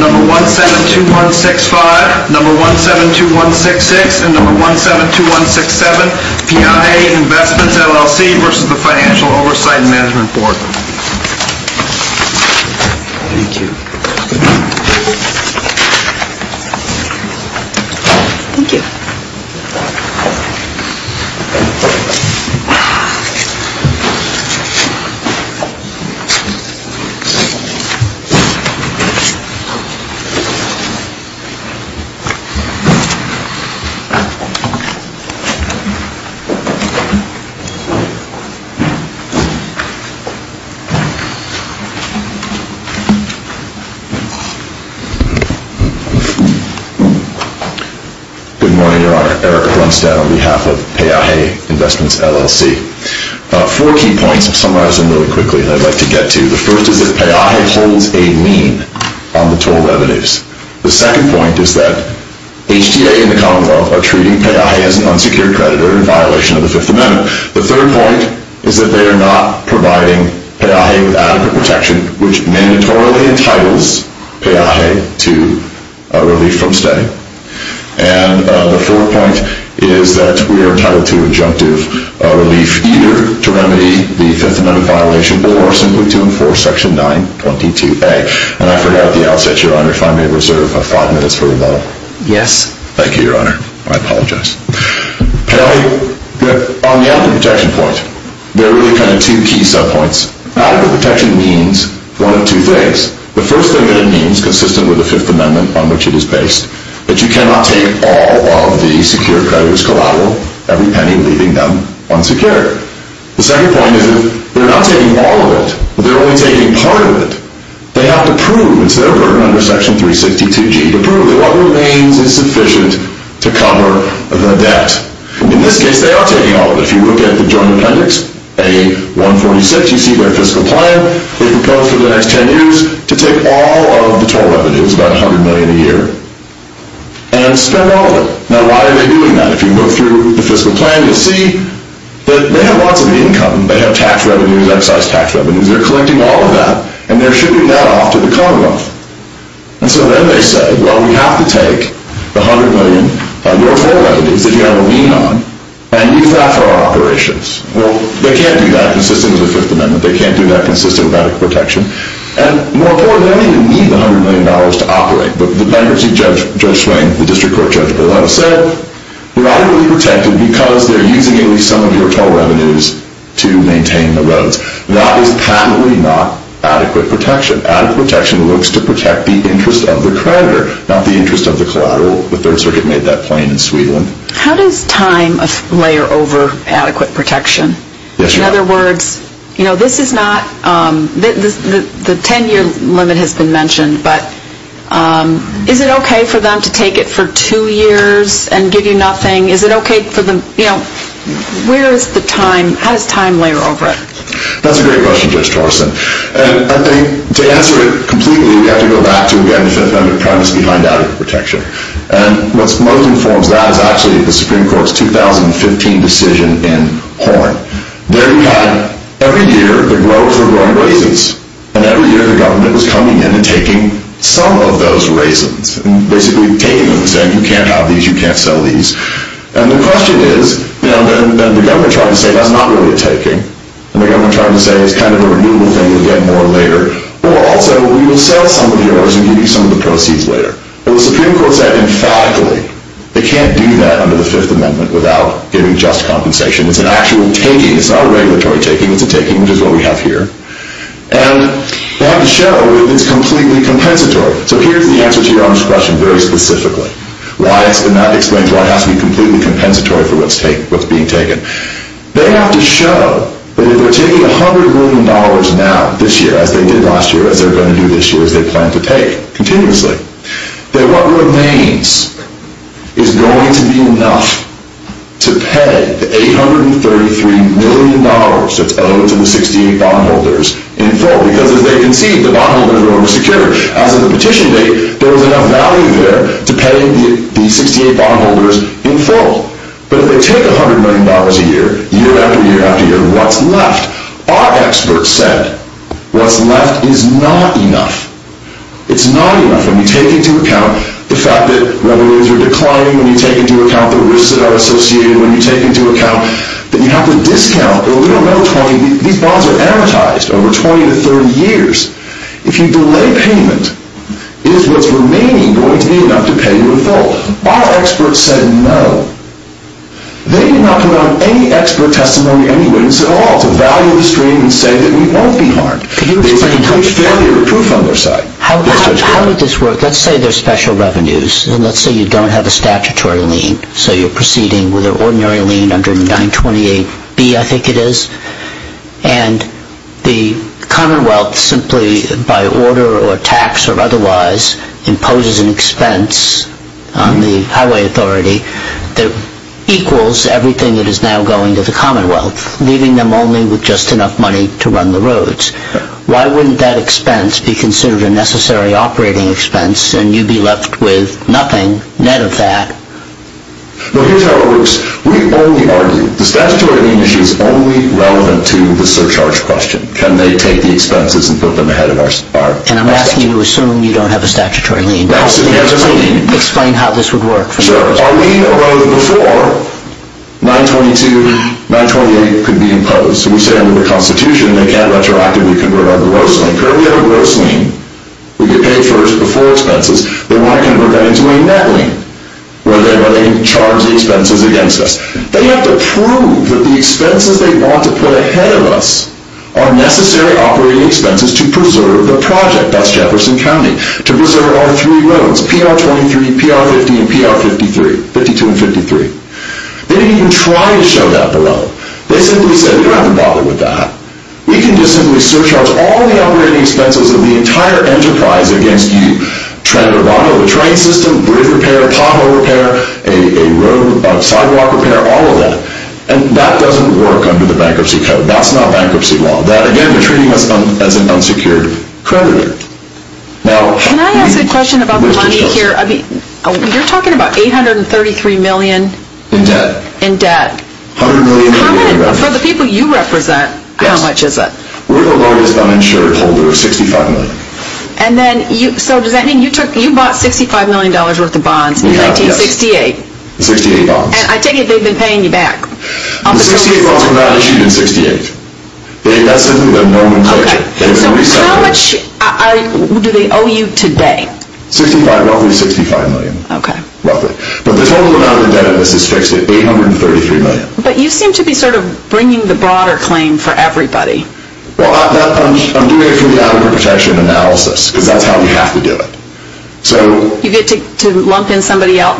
No. 172165, No. 172166, and No. 172167 PIA Investments LLC v. Financial Oversight and Management Board Good morning, Your Honor. Eric Brunstad on behalf of Paaje Investments LLC. Four key points I'll summarize really quickly and I'd like to get to. The first is that Paaje holds a lien on the total revenues. The second point is that HTA and the Commonwealth are treating Paaje as an unsecured creditor in violation of the Fifth Amendment. The third point is that they are not providing Paaje with adequate protection, which mandatorily entitles Paaje to relief from staying. And the fourth point is that we are entitled to adjunctive relief either to remedy the Fifth Amendment violation or simply to enforce Section 922A. And I forgot at the outset, Your Honor, if I may reserve five minutes for rebuttal. Yes. Thank you, Your Honor. I apologize. On the adequate protection point, there are really kind of two key sub-points. Adequate protection means one of two things. The first thing that it means, consistent with the Fifth Amendment on which it is based, is that you cannot take all of the secured creditors collateral, every penny leaving them unsecured. The second point is that they're not taking all of it, but they're only taking part of it. They have to prove, it's their burden under Section 362G, to prove that what remains is sufficient to cover the debt. In this case, they are taking all of it. If you look at the Joint Appendix A-146, you see their fiscal plan. They propose for the next ten years to take all of the total revenues, about $100 million a year, and spend all of it. Now, why are they doing that? If you go through the fiscal plan, you'll see that they have lots of income. They have tax revenues, excise tax revenues. They're collecting all of that, and they're shipping that off to the Commonwealth. And so then they say, well, we have to take the $100 million, your total revenues, if you have a lien on, and use that for our operations. Well, they can't do that consistent with the Fifth Amendment. They can't do that consistent with adequate protection. And more importantly, they don't even need the $100 million to operate. The bankruptcy judge, Judge Swain, the district court judge, will have said, we're not going to be protected because they're using at least some of your total revenues to maintain the roads. That is patently not adequate protection. Adequate protection looks to protect the interest of the creditor, not the interest of the collateral. The Third Circuit made that plain in Sweden. How does time layer over adequate protection? In other words, you know, this is not, the ten-year limit has been mentioned, but is it okay for them to take it for two years and give you nothing? Is it okay for them, you know, where is the time, how does time layer over it? That's a great question, Judge Torsen. And I think to answer it completely, we have to go back to, again, the Fifth Amendment premise behind adequate protection. And what most informs that is actually the Supreme Court's 2015 decision in Horn. There you had, every year, the growth of growing raisins. And every year, the government was coming in and taking some of those raisins, and basically taking them and saying, you can't have these, you can't sell these. And the question is, you know, then the government tried to say, that's not really a taking. And the government tried to say, it's kind of a renewal thing, we'll get more later. Or also, we will sell some of yours and give you some of the proceeds later. But the Supreme Court said emphatically, they can't do that under the Fifth Amendment without giving just compensation. It's an actual taking, it's not a regulatory taking, it's a taking, which is what we have here. And they have to show it's completely compensatory. So here's the answer to your honest question very specifically. And that explains why it has to be completely compensatory for what's being taken. They have to show that if they're taking $100 million now this year, as they did last year, as they're going to do this year, as they plan to take continuously, that what remains is going to be enough to pay the $833 million that's owed to the 16 bondholders in full. Because as they conceived, the bondholders were oversecured. As of the petition date, there was enough value there to pay the 68 bondholders in full. But if they take $100 million a year, year after year after year, what's left? Our experts said, what's left is not enough. It's not enough when you take into account the fact that revenues are declining, when you take into account the risks that are associated, when you take into account that you have to discount a little over 20. These bonds are amortized over 20 to 30 years. If you delay payment, is what's remaining going to be enough to pay you in full? Our experts said no. They did not put out any expert testimony, any witness at all, to value the stream and say that we won't be harmed. They didn't put failure proof on their side. How would this work? Let's say there's special revenues, and let's say you don't have a statutory lien. So you're proceeding with an ordinary lien under 928B, I think it is. And the Commonwealth simply, by order or tax or otherwise, imposes an expense on the highway authority that equals everything that is now going to the Commonwealth, leaving them only with just enough money to run the roads. Why wouldn't that expense be considered a necessary operating expense, and you'd be left with nothing, net of that? Here's how it works. We only argue. The statutory lien issue is only relevant to the surcharge question. Can they take the expenses and put them ahead of our expectation? And I'm asking you to assume you don't have a statutory lien. Explain how this would work for us. Sure. Our lien arose before 922, 928 could be imposed. We say under the Constitution they can't retroactively convert over gross lien. Currently we have a gross lien. We get paid first before expenses. Then why convert that into a net lien? Whether they charge the expenses against us. They have to prove that the expenses they want to put ahead of us are necessary operating expenses to preserve the project. That's Jefferson County. To preserve our three roads, PR-23, PR-50, and PR-53. 52 and 53. They didn't even try to show that below. They simply said, we don't have to bother with that. We can just simply surcharge all the operating expenses of the entire enterprise against you. Tread the bottom of the train system, bridge repair, pothole repair, sidewalk repair, all of that. And that doesn't work under the bankruptcy code. That's not bankruptcy law. Again, you're treating us as an unsecured creditor. Can I ask a question about the money here? You're talking about $833 million in debt. For the people you represent, how much is that? We're the largest uninsured holder of $65 million. So does that mean you bought $65 million worth of bonds in 1968? Yes. 68 bonds. And I take it they've been paying you back. The 68 bonds were not issued in 68. That's simply their normal culture. So how much do they owe you today? Roughly $65 million. But the total amount of debt that's been fixed is $833 million. But you seem to be sort of bringing the broader claim for everybody. Well, I'm doing it for the adequate protection analysis, because that's how we have to do it. You get to lump in somebody else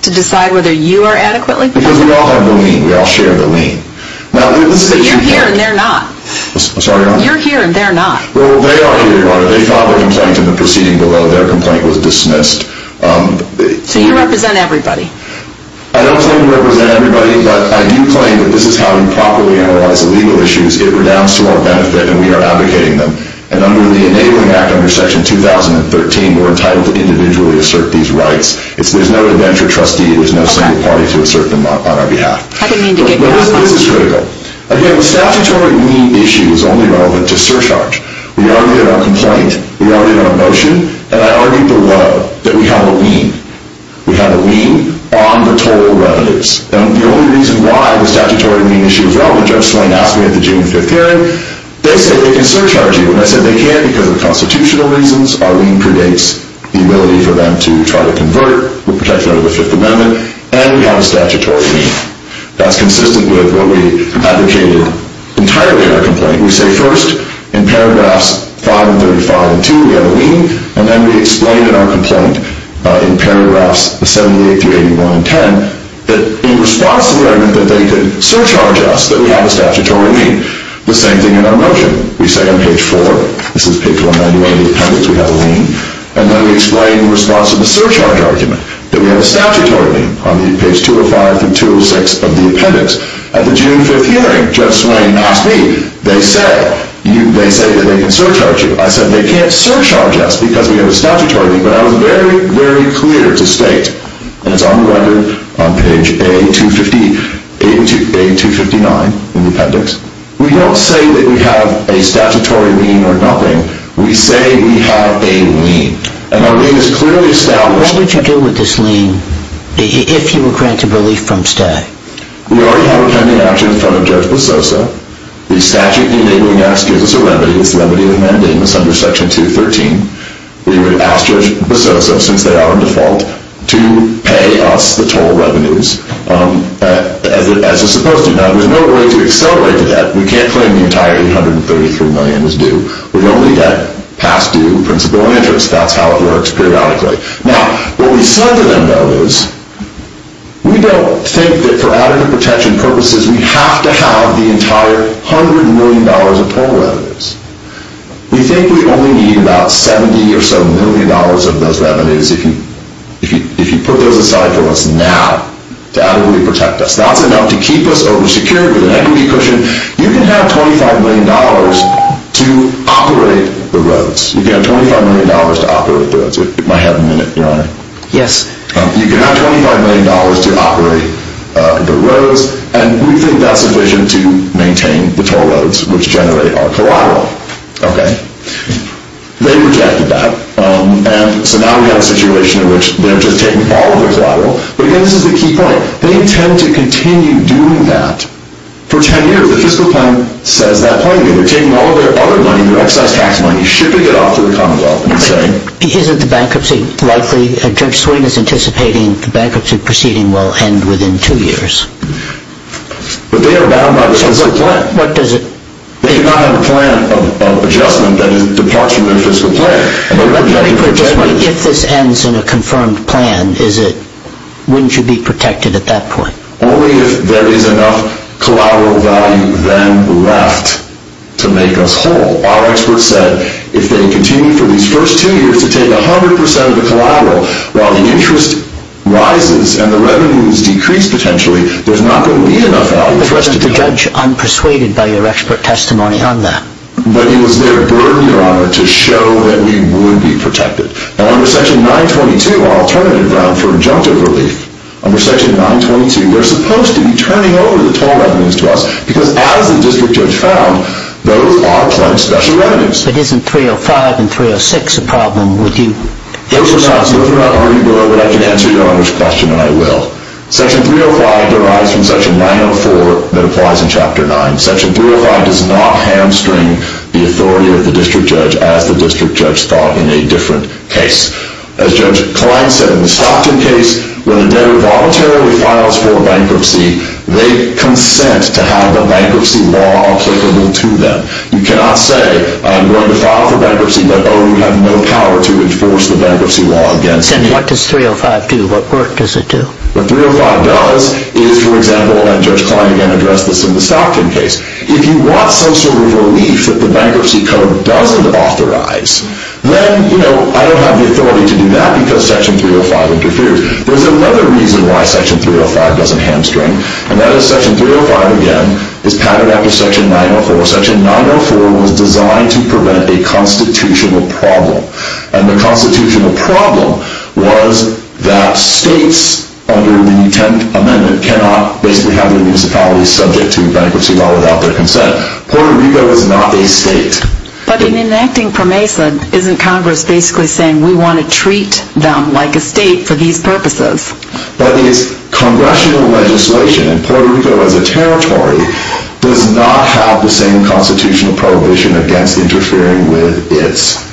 to decide whether you are adequately protected? Because we all have the lien. We all share the lien. But you're here and they're not. I'm sorry? You're here and they're not. Well, they are here. They filed a complaint in the proceeding below. Their complaint was dismissed. So you represent everybody. I don't claim to represent everybody, but I do claim that this is how we properly analyze the legal issues. It redounds to our benefit and we are advocating them. And under the Enabling Act, under Section 2013, we're entitled to individually assert these rights. There's no adventure trustee. There's no single party to assert them on our behalf. How do you mean to get rid of them? This is critical. Again, the statutory lien issue is only relevant to surcharge. We argued our complaint. We argued our motion. And I argued below that we have a lien. We have a lien on the total revenues. The only reason why the statutory lien issue is relevant, Judge Swain asked me at the June 5th hearing, they said they can surcharge you. And I said they can't because of constitutional reasons. Our lien predates the ability for them to try to convert with protection under the Fifth Amendment. And we have a statutory lien. That's consistent with what we advocated entirely in our complaint. We say first, in paragraphs 5 and 35 and 2, we have a lien. And then we explain in our complaint, in paragraphs 78 through 81 and 10, that in response to the argument that they could surcharge us, that we have a statutory lien. The same thing in our motion. We say on page 4, this is page 191 of the appendix, we have a lien. And then we explain in response to the surcharge argument that we have a statutory lien on page 205 through 206 of the appendix. At the June 5th hearing, Judge Swain asked me, they say that they can surcharge you. I said they can't surcharge us because we have a statutory lien. But I was very, very clear to state, and it's on the letter, on page A259 in the appendix, we don't say that we have a statutory lien or nothing. We say we have a lien. And our lien is clearly established. What would you do with this lien if you were granted relief from stay? We already have a pending action in front of Judge Busosa. The statute in the Enabling Act gives us a remedy. It's remedy of mandamus under Section 213. We would ask Judge Busosa, since they are on default, to pay us the total revenues as is supposed to. Now, there's no way to accelerate that. We can't claim the entire $833 million is due. We've only got past due, principal, and interest. That's how it works periodically. Now, what we said to them, though, is we don't think that for adequate protection purposes, we have to have the entire $100 million of total revenues. We think we only need about $70 or so million of those revenues if you put those aside for us now to adequately protect us. That's enough to keep us oversecured with an equity cushion. You can have $25 million to operate the roads. You can have $25 million to operate the roads. It might happen in a minute, Your Honor. Yes. You can have $25 million to operate the roads. And we think that's sufficient to maintain the toll roads, which generate our collateral. Okay. They rejected that. And so now we have a situation in which they're just taking all of their collateral. But, again, this is the key point. They intend to continue doing that for 10 years. The fiscal plan says that point. They're taking all of their other money, their excise tax money, shipping it off to the Commonwealth. Isn't the bankruptcy likely? Judge Sweeney is anticipating the bankruptcy proceeding will end within two years. But they are bound by the fiscal plan. What does it mean? They do not have a plan of adjustment that is a departure from their fiscal plan. If this ends in a confirmed plan, wouldn't you be protected at that point? Only if there is enough collateral value then left to make us whole. Our experts said if they continue for these first two years to take 100 percent of the collateral, while the interest rises and the revenues decrease potentially, there's not going to be enough value for us to take. But wasn't the judge unpersuaded by your expert testimony on that? But it was their burden, Your Honor, to show that we would be protected. Now, under Section 922, our alternative route for injunctive relief, under Section 922, they're supposed to be turning over the toll revenues to us because, as the district judge found, those are plain special revenues. But isn't 305 and 306 a problem? Those are not, Your Honor, but I can answer Your Honor's question, and I will. Section 305 derives from Section 904 that applies in Chapter 9. Section 305 does not hamstring the authority of the district judge, as the district judge thought in a different case. As Judge Klein said, in the Stockton case, when a debtor voluntarily files for bankruptcy, they consent to have the bankruptcy law applicable to them. You cannot say, I'm going to file for bankruptcy, but oh, you have no power to enforce the bankruptcy law against me. Then what does 305 do? What work does it do? What 305 does is, for example, and Judge Klein again addressed this in the Stockton case, if you want some sort of relief that the Bankruptcy Code doesn't authorize, then, you know, I don't have the authority to do that because Section 305 interferes. There's another reason why Section 305 doesn't hamstring, and that is Section 305, again, is padded after Section 904. Section 904 was designed to prevent a constitutional problem, and the constitutional problem was that states under the 10th Amendment cannot basically have their municipalities subject to bankruptcy law without their consent. Puerto Rico is not a state. But in enacting PROMESA, isn't Congress basically saying, we want to treat them like a state for these purposes? That is, Congressional legislation in Puerto Rico as a territory does not have the same constitutional prohibition against interfering with its...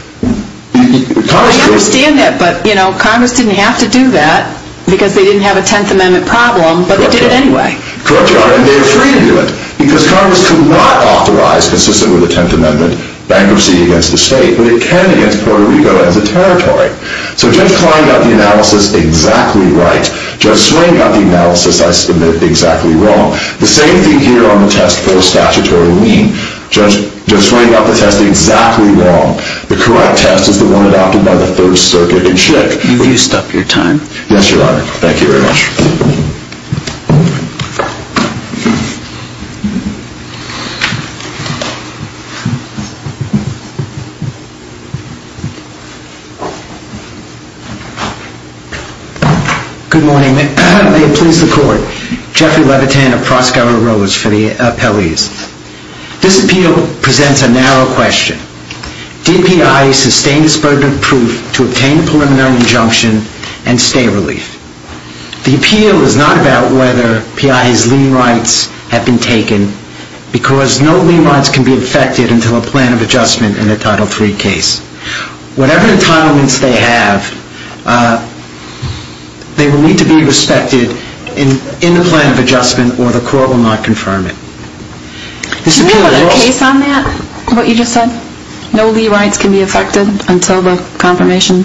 I understand that, but, you know, Congress didn't have to do that because they didn't have a 10th Amendment problem, but they did it anyway. Correct you are, and they're free to do it, because Congress cannot authorize, consistent with the 10th Amendment, bankruptcy against the state, but it can against Puerto Rico as a territory. So Judge Klein got the analysis exactly right. Judge Swain got the analysis I submit exactly wrong. The same thing here on the test for a statutory lien. Judge Swain got the test exactly wrong. The correct test is the one adopted by the Third Circuit in Chick. Have you used up your time? Yes, Your Honor. Thank you very much. Good morning. May it please the Court. Jeffrey Levitin of Proskauer Rose for the appellees. This appeal presents a narrow question. Did PI sustain this burden of proof to obtain a preliminary injunction and stay relief? The appeal is not about whether PI's lien rights have been taken, because no lien rights can be affected until a plan of adjustment in a Title III case. Whatever entitlements they have, they will need to be respected in the plan of adjustment, or the Court will not confirm it. Do you know of a case on that, what you just said? No lien rights can be affected until the confirmation?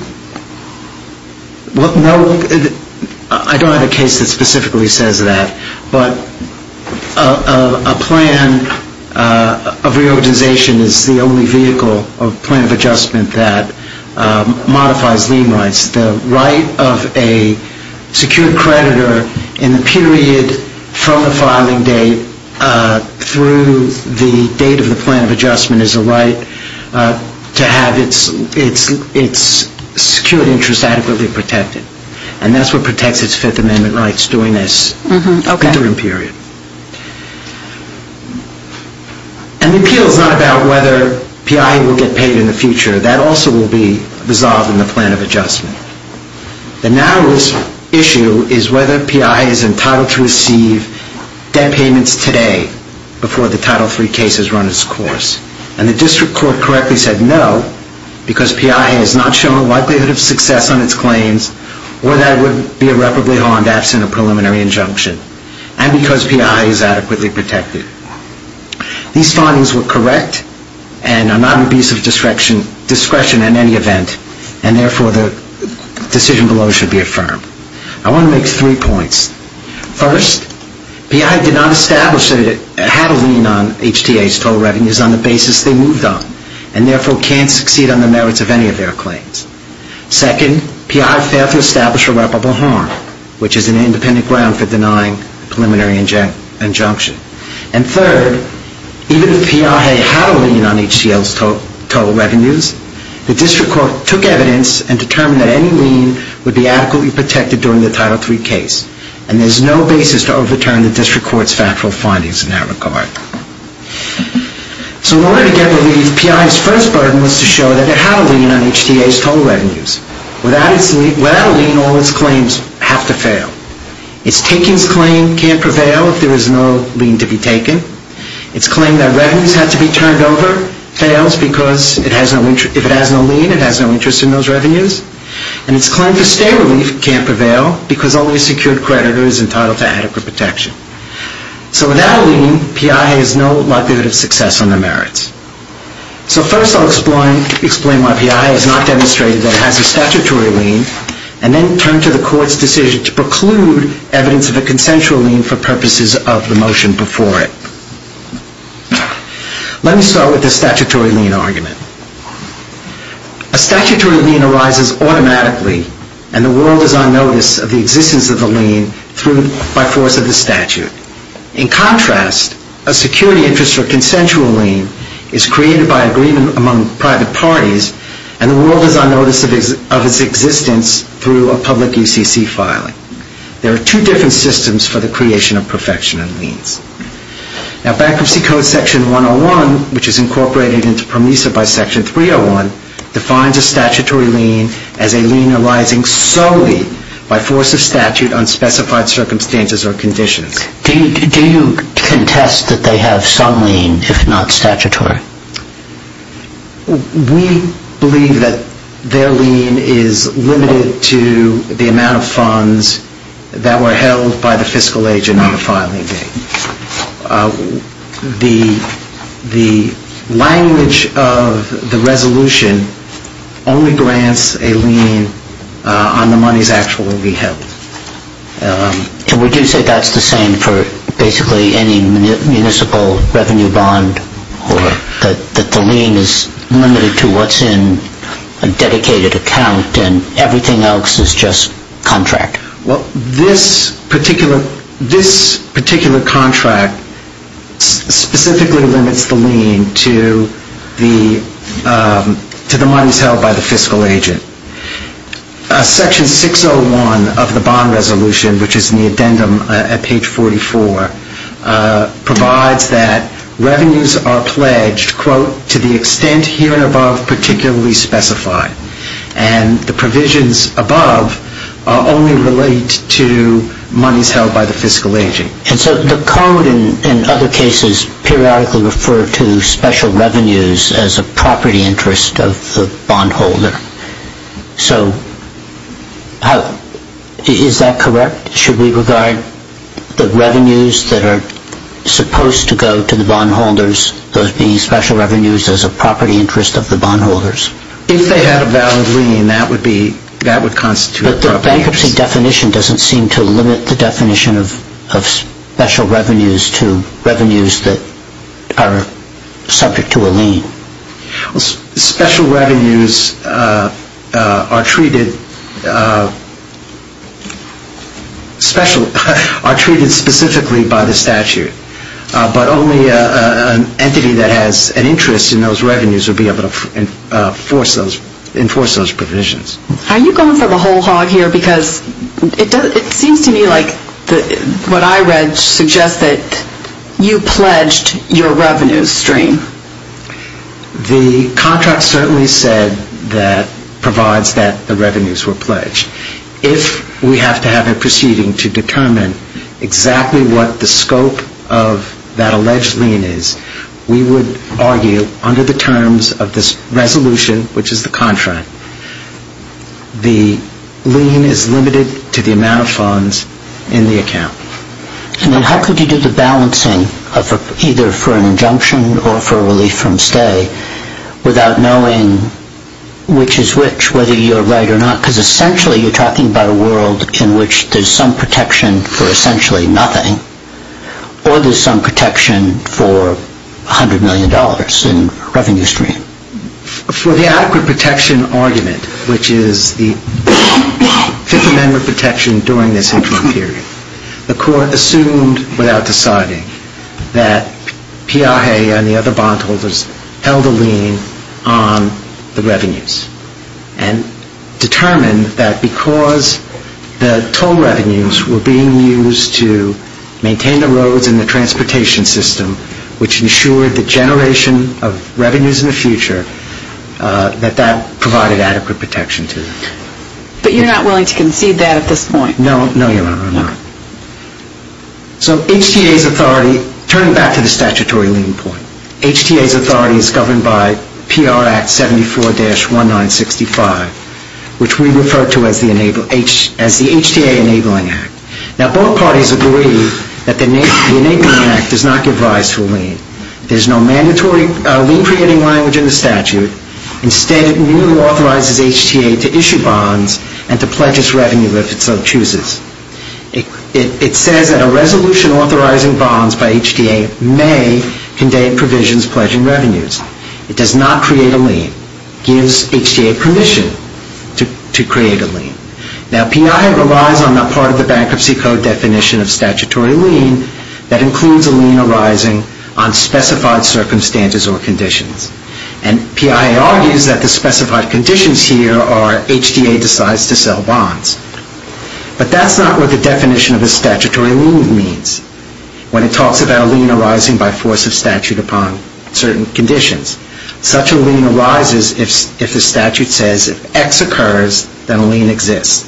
I don't have a case that specifically says that, but a plan of reorganization is the only vehicle of plan of adjustment that modifies lien rights. The right of a secured creditor in the period from the filing date through the date of the plan of adjustment is a right to have its secured interest adequately protected, and that's what protects its Fifth Amendment rights during this interim period. An appeal is not about whether PI will get paid in the future. That also will be resolved in the plan of adjustment. The narrowest issue is whether PI is entitled to receive debt payments today before the Title III case has run its course. And the District Court correctly said no, because PI has not shown a likelihood of success on its claims, or that it would be irreparably harmed absent a preliminary injunction, and because PI is adequately protected. These findings were correct and are not an abuse of discretion in any event, and therefore the decision below should be affirmed. I want to make three points. First, PI did not establish that it had a lien on HTA's total revenues on the basis they moved on, and therefore can't succeed on the merits of any of their claims. Second, PI failed to establish irreparable harm, which is an independent ground for denying a preliminary injunction. And third, even if PI had a lien on HTA's total revenues, the District Court took evidence and determined that any lien would be adequately protected during the Title III case, and there is no basis to overturn the District Court's factual findings in that regard. So in order to get relief, PI's first burden was to show that it had a lien on HTA's total revenues. Without a lien, all its claims have to fail. Its takings claim can't prevail if there is no lien to be taken. Its claim that revenues have to be turned over fails because if it has no lien, it has no interest in those revenues. And its claim for stay relief can't prevail because only a secured creditor is entitled to adequate protection. So without a lien, PI has no likelihood of success on their merits. So first I'll explain why PI has not demonstrated that it has a statutory lien and then turn to the Court's decision to preclude evidence of a consensual lien for purposes of the motion before it. Let me start with the statutory lien argument. A statutory lien arises automatically, and the world is on notice of the existence of the lien by force of the statute. In contrast, a security interest or consensual lien is created by agreement among private parties, and the world is on notice of its existence through a public UCC filing. There are two different systems for the creation of perfection in liens. Now Bankruptcy Code section 101, which is incorporated into PROMISA by section 301, defines a statutory lien as a lien arising solely by force of statute, unspecified circumstances or conditions. Do you contest that they have some lien, if not statutory? We believe that their lien is limited to the amount of funds that were held by the fiscal agent on the filing date. The language of the resolution only grants a lien on the monies actually held. And would you say that's the same for basically any municipal revenue bond, or that the lien is limited to what's in a dedicated account, and everything else is just contract? Well, this particular contract specifically limits the lien to the monies held by the fiscal agent. Section 601 of the bond resolution, which is in the addendum at page 44, provides that revenues are pledged, quote, to the extent here and above particularly specified. And the provisions above only relate to monies held by the fiscal agent. And so the code in other cases periodically referred to special revenues as a property interest of the bondholder. So is that correct? Should we regard the revenues that are supposed to go to the bondholders, those being special revenues, as a property interest of the bondholders? But the bankruptcy definition doesn't seem to limit the definition of special revenues to revenues that are subject to a lien. Well, special revenues are treated specifically by the statute. But only an entity that has an interest in those revenues would be able to enforce those provisions. Are you going for the whole hog here? Because it seems to me like what I read suggests that you pledged your revenues stream. The contract certainly said that provides that the revenues were pledged. If we have to have a proceeding to determine exactly what the scope of that alleged lien is, we would argue under the terms of this resolution, which is the contract, the lien is limited to the amount of funds in the account. And then how could you do the balancing of either for an injunction or for a relief from stay without knowing which is which, whether you're right or not? Because essentially you're talking about a world in which there's some protection for essentially nothing or there's some protection for $100 million in revenue stream. For the adequate protection argument, which is the Fifth Amendment protection during this interim period, the court assumed without deciding that Piaget and the other bondholders held a lien on the revenues and determined that because the toll revenues were being used to maintain the roads and the transportation system, which ensured the generation of revenues in the future, that that provided adequate protection to them. But you're not willing to concede that at this point? No, you're not. So HTA's authority, turning back to the statutory lien point, HTA's authority is governed by PR Act 74-1965, which we refer to as the HTA Enabling Act. Now, both parties agree that the Enabling Act does not give rise to a lien. There's no mandatory lien-creating language in the statute. Instead, it merely authorizes HTA to issue bonds and to pledge its revenue if it so chooses. It says that a resolution authorizing bonds by HTA may convey provisions pledging revenues. It does not create a lien. It gives HTA permission to create a lien. Now, Piaget relies on that part of the Bankruptcy Code definition of statutory lien that includes a lien arising on specified circumstances or conditions. And Piaget argues that the specified conditions here are HTA decides to sell bonds. But that's not what the definition of a statutory lien means when it talks about a lien arising by force of statute upon certain conditions. Such a lien arises if the statute says if X occurs, then a lien exists.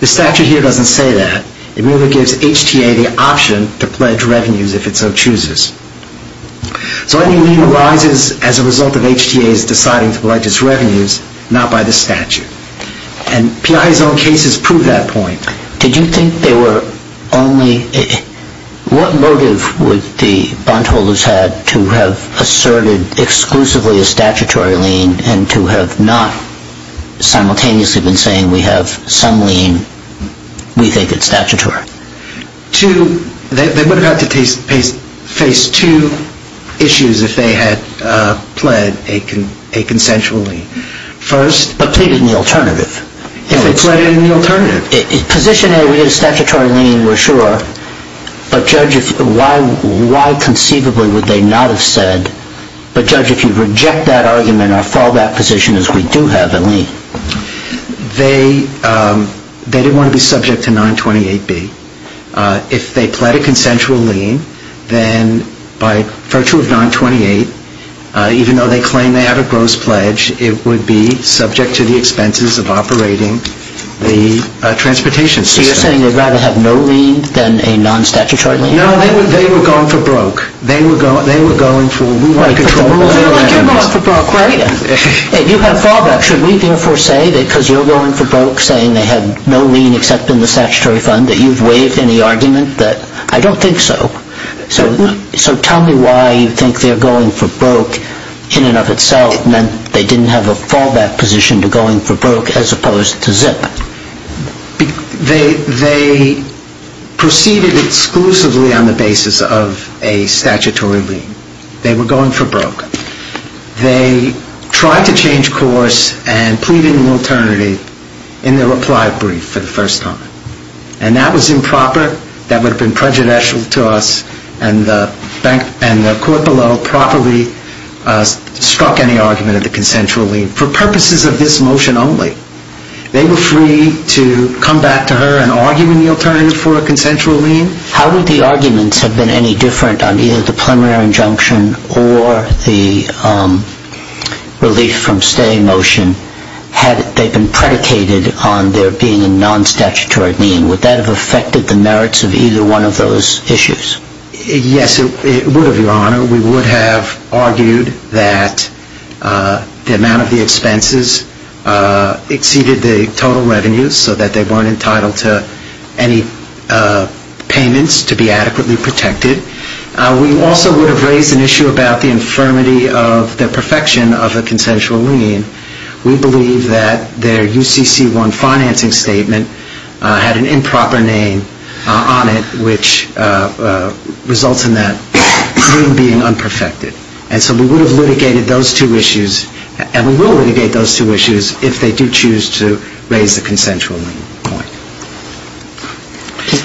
The statute here doesn't say that. It merely gives HTA the option to pledge revenues if it so chooses. So any lien arises as a result of HTA's deciding to pledge its revenues, not by the statute. And Piaget's own cases prove that point. Did you think there were only... What motive would the bondholders have to have asserted exclusively a statutory lien and to have not simultaneously been saying we have some lien we think is statutory? They would have had to face two issues if they had pledged a consensual lien. First... But pleaded in the alternative. If they pleaded in the alternative. Position A, we get a statutory lien, we're sure. But, Judge, why conceivably would they not have said, but, Judge, if you reject that argument, I'll fall back position as we do have a lien. They didn't want to be subject to 928B. If they pled a consensual lien, then by virtue of 928, even though they claim they had a gross pledge, it would be subject to the expenses of operating the transportation system. So you're saying they'd rather have no lien than a non-statutory lien? No, they were going for broke. They were going for, we want to control... They're like your mom for broke, right? You have fallback. Should we therefore say that because you're going for broke, saying they had no lien except in the statutory fund, that you've waived any argument that... I don't think so. So tell me why you think they're going for broke in and of itself meant they didn't have a fallback position to going for broke as opposed to zip. They proceeded exclusively on the basis of a statutory lien. They were going for broke. They tried to change course and plead an alternative in their reply brief for the first time. And that was improper. That would have been prejudicial to us. And the court below properly struck any argument of the consensual lien for purposes of this motion only. They were free to come back to her and argue in the alternative for a consensual lien. How would the arguments have been any different on either the preliminary injunction or the relief from stay motion had they been predicated on there being a non-statutory lien? Would that have affected the merits of either one of those issues? Yes, it would have, Your Honor. We would have argued that the amount of the expenses exceeded the total revenues so that they weren't entitled to any payments to be adequately protected. We also would have raised an issue about the infirmity of the perfection of a consensual lien. We believe that their UCC1 financing statement had an improper name on it which results in that lien being unperfected. And so we would have litigated those two issues and we will litigate those two issues if they do choose to raise the consensual point.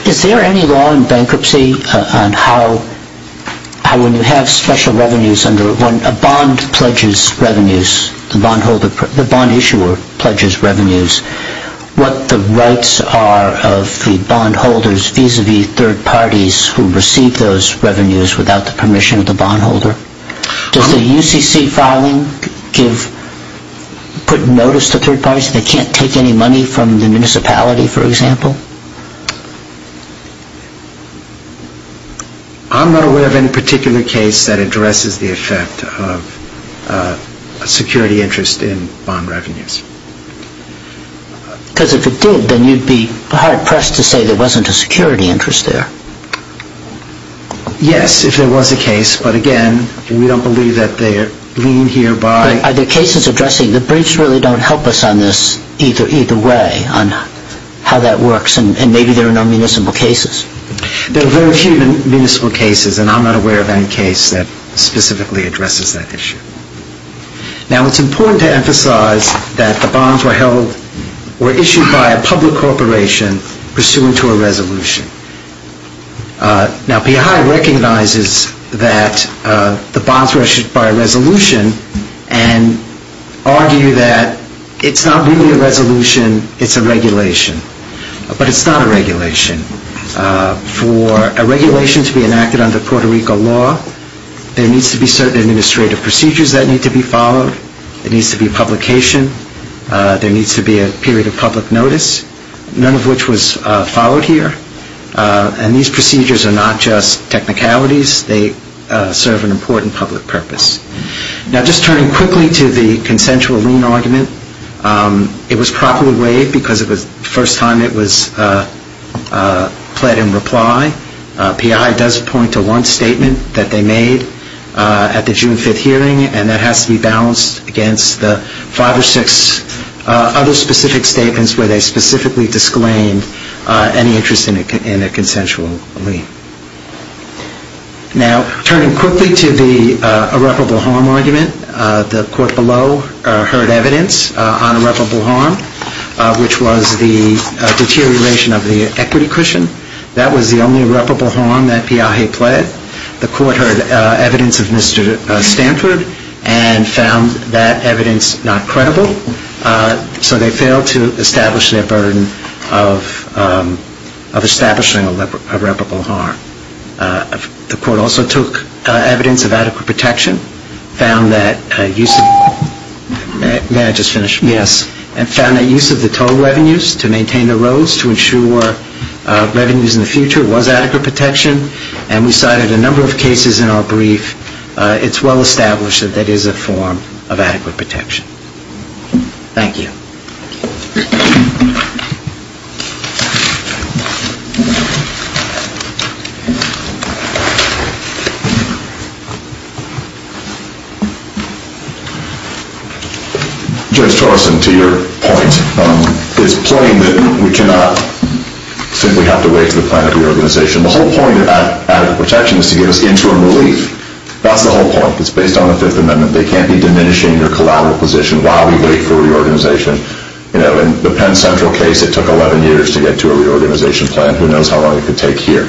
Is there any law in bankruptcy on how when you have special revenues under when a bond pledges revenues, the bond issuer pledges revenues, what the rights are of the bondholders vis-à-vis third parties who receive those revenues without the permission of the bondholder? Does the UCC filing put notice to third parties that they can't take any money from the municipality, for example? I'm not aware of any particular case that addresses the effect of a security interest in bond revenues. Because if it did, then you'd be hard-pressed to say there wasn't a security interest there. Yes, if there was a case, but again, we don't believe that the lien here by... Are there cases addressing, the briefs really don't help us on this either way, on how that works, and maybe there are no municipal cases. There are very few municipal cases, and I'm not aware of any case that specifically addresses that issue. Now, it's important to emphasize that the bonds were held, were issued by a public corporation pursuant to a resolution. Now, PI recognizes that the bonds were issued by a resolution and argue that it's not really a resolution, it's a regulation. But it's not a regulation. For a regulation to be enacted under Puerto Rico law, there needs to be certain administrative procedures that need to be followed. There needs to be publication. There needs to be a period of public notice, none of which was followed here. And these procedures are not just technicalities. They serve an important public purpose. Now, just turning quickly to the consensual lien argument, it was properly weighed because it was the first time it was pled in reply. PI does point to one statement that they made at the June 5th hearing, and that has to be balanced against the five or six other specific statements where they specifically disclaimed any interest in a consensual lien. Now, turning quickly to the irreparable harm argument, the court below heard evidence on irreparable harm, which was the deterioration of the equity cushion. That was the only irreparable harm that PI had pled. The court heard evidence of Mr. Stanford and found that evidence not credible. So they failed to establish their burden of establishing irreparable harm. The court also took evidence of adequate protection, found that use of the total revenues to maintain the roads to ensure revenues in the future was adequate protection, and we cited a number of cases in our brief. It's well established that that is a form of adequate protection. Thank you. Judge Torreson, to your point, it's plain that we cannot simply have to wait for the plan of reorganization. The whole point of adequate protection is to give us interim relief. That's the whole point. It's based on the Fifth Amendment. They can't be diminishing your collateral position while we wait for reorganization. In the Penn Central case, it took 11 years to get to a reorganization plan. Who knows how long it could take here?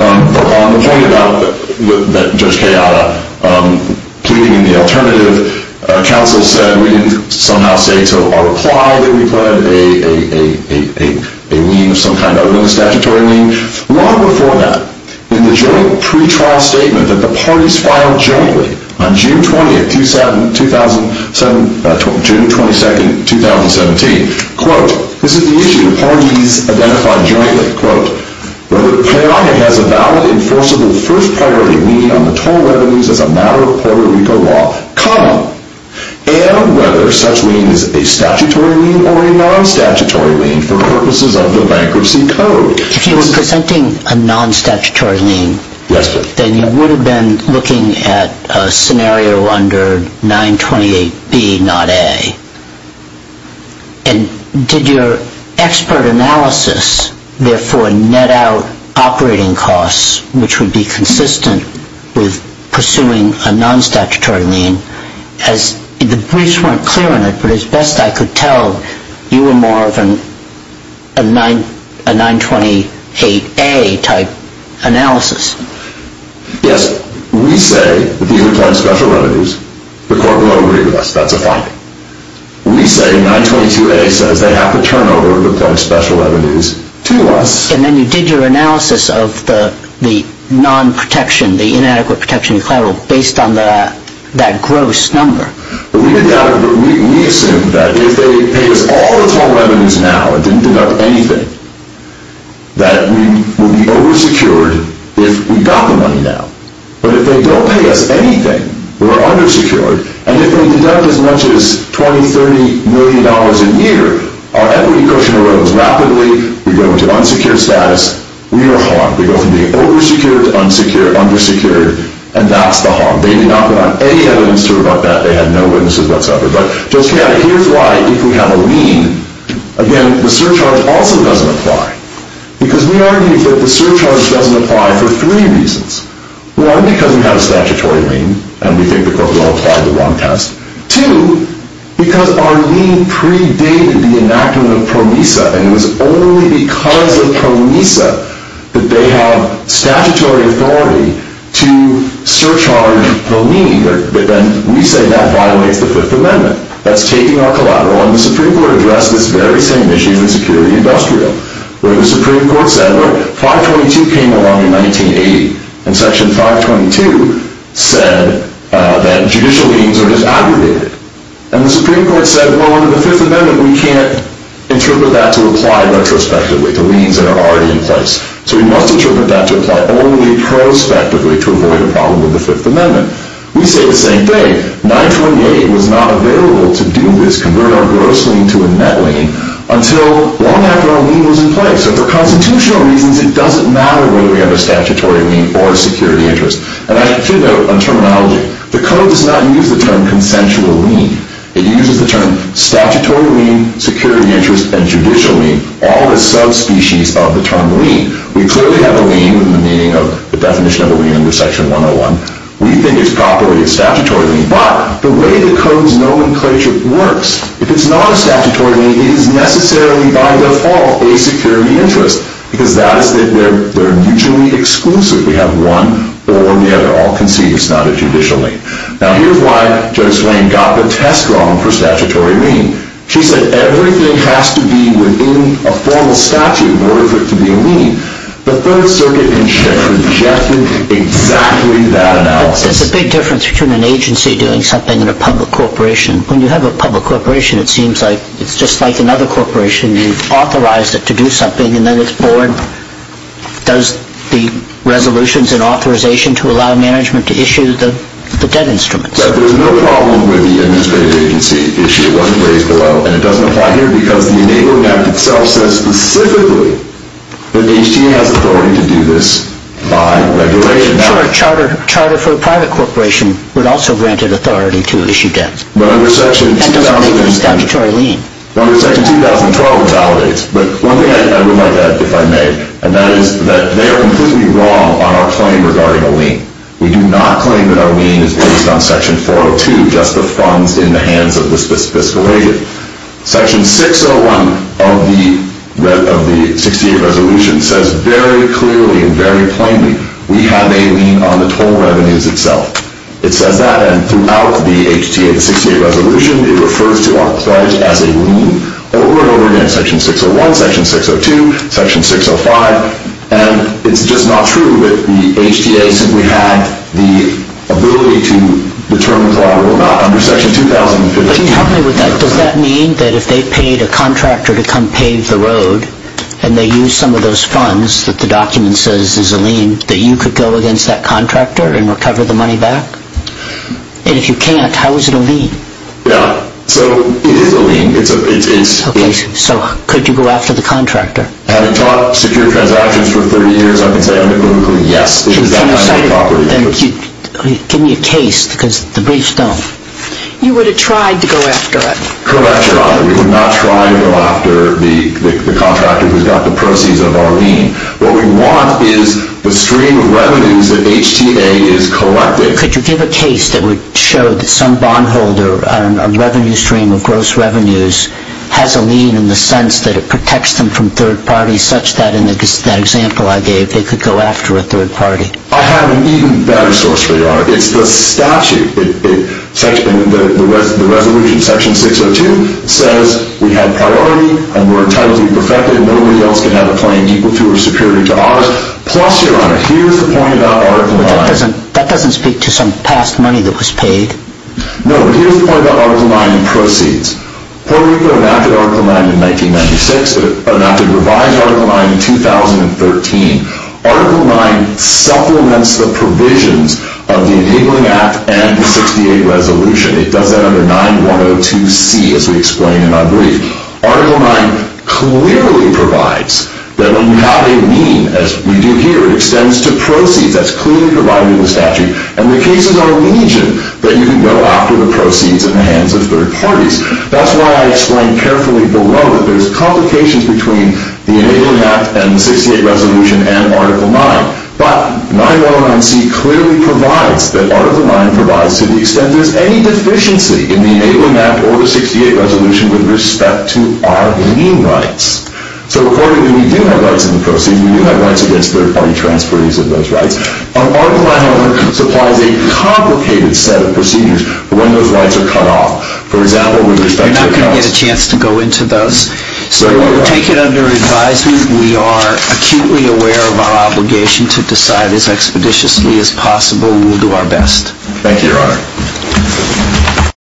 On the point about Judge Kayada pleading in the alternative, counsel said we didn't somehow say to our reply that we pled a lien of some kind other than a statutory lien. Long before that, in the joint pretrial statement that the parties filed jointly on June 22, 2017, quote, this is the issue the parties identified jointly, quote, whether Kayada has a valid enforceable first priority lien on the total revenues as a matter of Puerto Rico law, comma, and whether such lien is a statutory lien or a non-statutory lien for purposes of the bankruptcy code. If you were presenting a non-statutory lien, then you would have been looking at a scenario under 928B, not A. And did your expert analysis therefore net out operating costs, which would be consistent with pursuing a non-statutory lien? The briefs weren't clear on it, but as best I could tell, you were more of a 928A type analysis. Yes. We say that these are planned special revenues. The court will agree with us. That's a fine. We say 922A says they have to turn over the planned special revenues to us. And then you did your analysis of the non-protection, the inadequate protection collateral, based on that gross number. We assumed that if they paid us all the total revenues now and didn't deduct anything, that we would be oversecured if we got the money now. But if they don't pay us anything, we're undersecured. And if they deduct as much as $20, $30 million a year, our equity cushion erodes rapidly. We go into unsecured status. We are harmed. We go from being oversecured to unsecured, undersecured, and that's the harm. They did not put on any evidence to report that. They had no witnesses whatsoever. But just to clarify, if we have a lien, again, the surcharge also doesn't apply. Because we argue that the surcharge doesn't apply for three reasons. One, because we have a statutory lien, and we think the court will apply the one test. Two, because our lien predated the enactment of PROMISA, and it was only because of PROMISA that they have statutory authority to surcharge the lien. But then we say that violates the Fifth Amendment. That's taking our collateral. And the Supreme Court addressed this very same issue in the Security Industrial, where the Supreme Court said, well, 522 came along in 1980. And Section 522 said that judicial liens are just aggravated. And the Supreme Court said, well, under the Fifth Amendment, we can't interpret that to apply retrospectively to liens that are already in place. So we must interpret that to apply only prospectively to avoid a problem with the Fifth Amendment. We say the same thing. 928 was not available to do this, convert our gross lien to a net lien, until long after our lien was in place. So for constitutional reasons, it doesn't matter whether we have a statutory lien or a security interest. And I should note on terminology, the Code does not use the term consensual lien. It uses the term statutory lien, security interest, and judicial lien, all the subspecies of the term lien. We clearly have a lien in the meaning of the definition of a lien under Section 101. We think it's properly a statutory lien. But the way the Code's nomenclature works, if it's not a statutory lien, it is necessarily, by default, a security interest, because that is that they're mutually exclusive. We have one or the other. All can see it's not a judicial lien. Now, here's why Judge Swain got the test wrong for statutory lien. She said everything has to be within a formal statute in order for it to be a lien. The Third Circuit, in check, rejected exactly that analysis. But there's a big difference between an agency doing something and a public corporation. When you have a public corporation, it seems like it's just like another corporation. You've authorized it to do something, and then its board does the resolutions and authorization to allow management to issue the debt instruments. There's no problem with the administrative agency issue. It wasn't raised below. And it doesn't apply here because the Enable Act itself says specifically that HTA has authority to do this by regulation. A charter for a private corporation would also grant it authority to issue debts. That doesn't make it a statutory lien. Under Section 2012, it validates. But one thing I would like to add, if I may, and that is that they are completely wrong on our claim regarding a lien. We do not claim that our lien is based on Section 402, just the funds in the hands of the fiscal agent. Section 601 of the 68th Resolution says very clearly and very plainly we have a lien on the toll revenues itself. It says that. And throughout the HTA, the 68th Resolution, it refers to us as a lien over and over again, Section 601, Section 602, Section 605. And it's just not true that the HTA simply had the ability to determine whether or not under Section 2015. But can you help me with that? Does that mean that if they paid a contractor to come pave the road and they used some of those funds that the document says is a lien, that you could go against that contractor and recover the money back? And if you can't, how is it a lien? Yeah. So it is a lien. Okay. So could you go after the contractor? Had it taught secure transactions for 30 years, I can say anecdotally, yes, it is that kind of a property. Give me a case because the briefs don't. You would have tried to go after it. Correct, Your Honor. We would not try to go after the contractor who's got the proceeds of our lien. What we want is the stream of revenues that HTA is collecting. Could you give a case that would show that some bondholder, a revenue stream of gross revenues, has a lien in the sense that it protects them from third parties such that in that example I gave they could go after a third party? I have an even better source for you, Your Honor. It's the statute. The resolution, Section 602, says we have priority and we're entitled to be perfected and nobody else can have a claim equal to or superior to ours. Plus, Your Honor, here's the point about Article 9. That doesn't speak to some past money that was paid. No, but here's the point about Article 9 and proceeds. Puerto Rico enacted Article 9 in 1996. It enacted revised Article 9 in 2013. Article 9 supplements the provisions of the Enabling Act and the 68 Resolution. It does that under 9102C as we explain in our brief. Article 9 clearly provides that when you have a lien, as we do here, it extends to proceeds. That's clearly provided in the statute. And the cases are legion that you can go after the proceeds in the hands of third parties. That's why I explained carefully below that there's complications between the Enabling Act and the 68 Resolution and Article 9. But 9109C clearly provides that Article 9 provides to the extent there's any deficiency in the Enabling Act or the 68 Resolution with respect to our lien rights. So accordingly, we do have rights in the proceeds. We do have rights against third-party transference of those rights. Article 9, however, supplies a complicated set of procedures for when those rights are cut off. For example, with respect to accounts. We're not going to get a chance to go into those. So we will take it under advisement. We are acutely aware of our obligation to decide as expeditiously as possible. We'll do our best. Thank you, Your Honor. Thank you.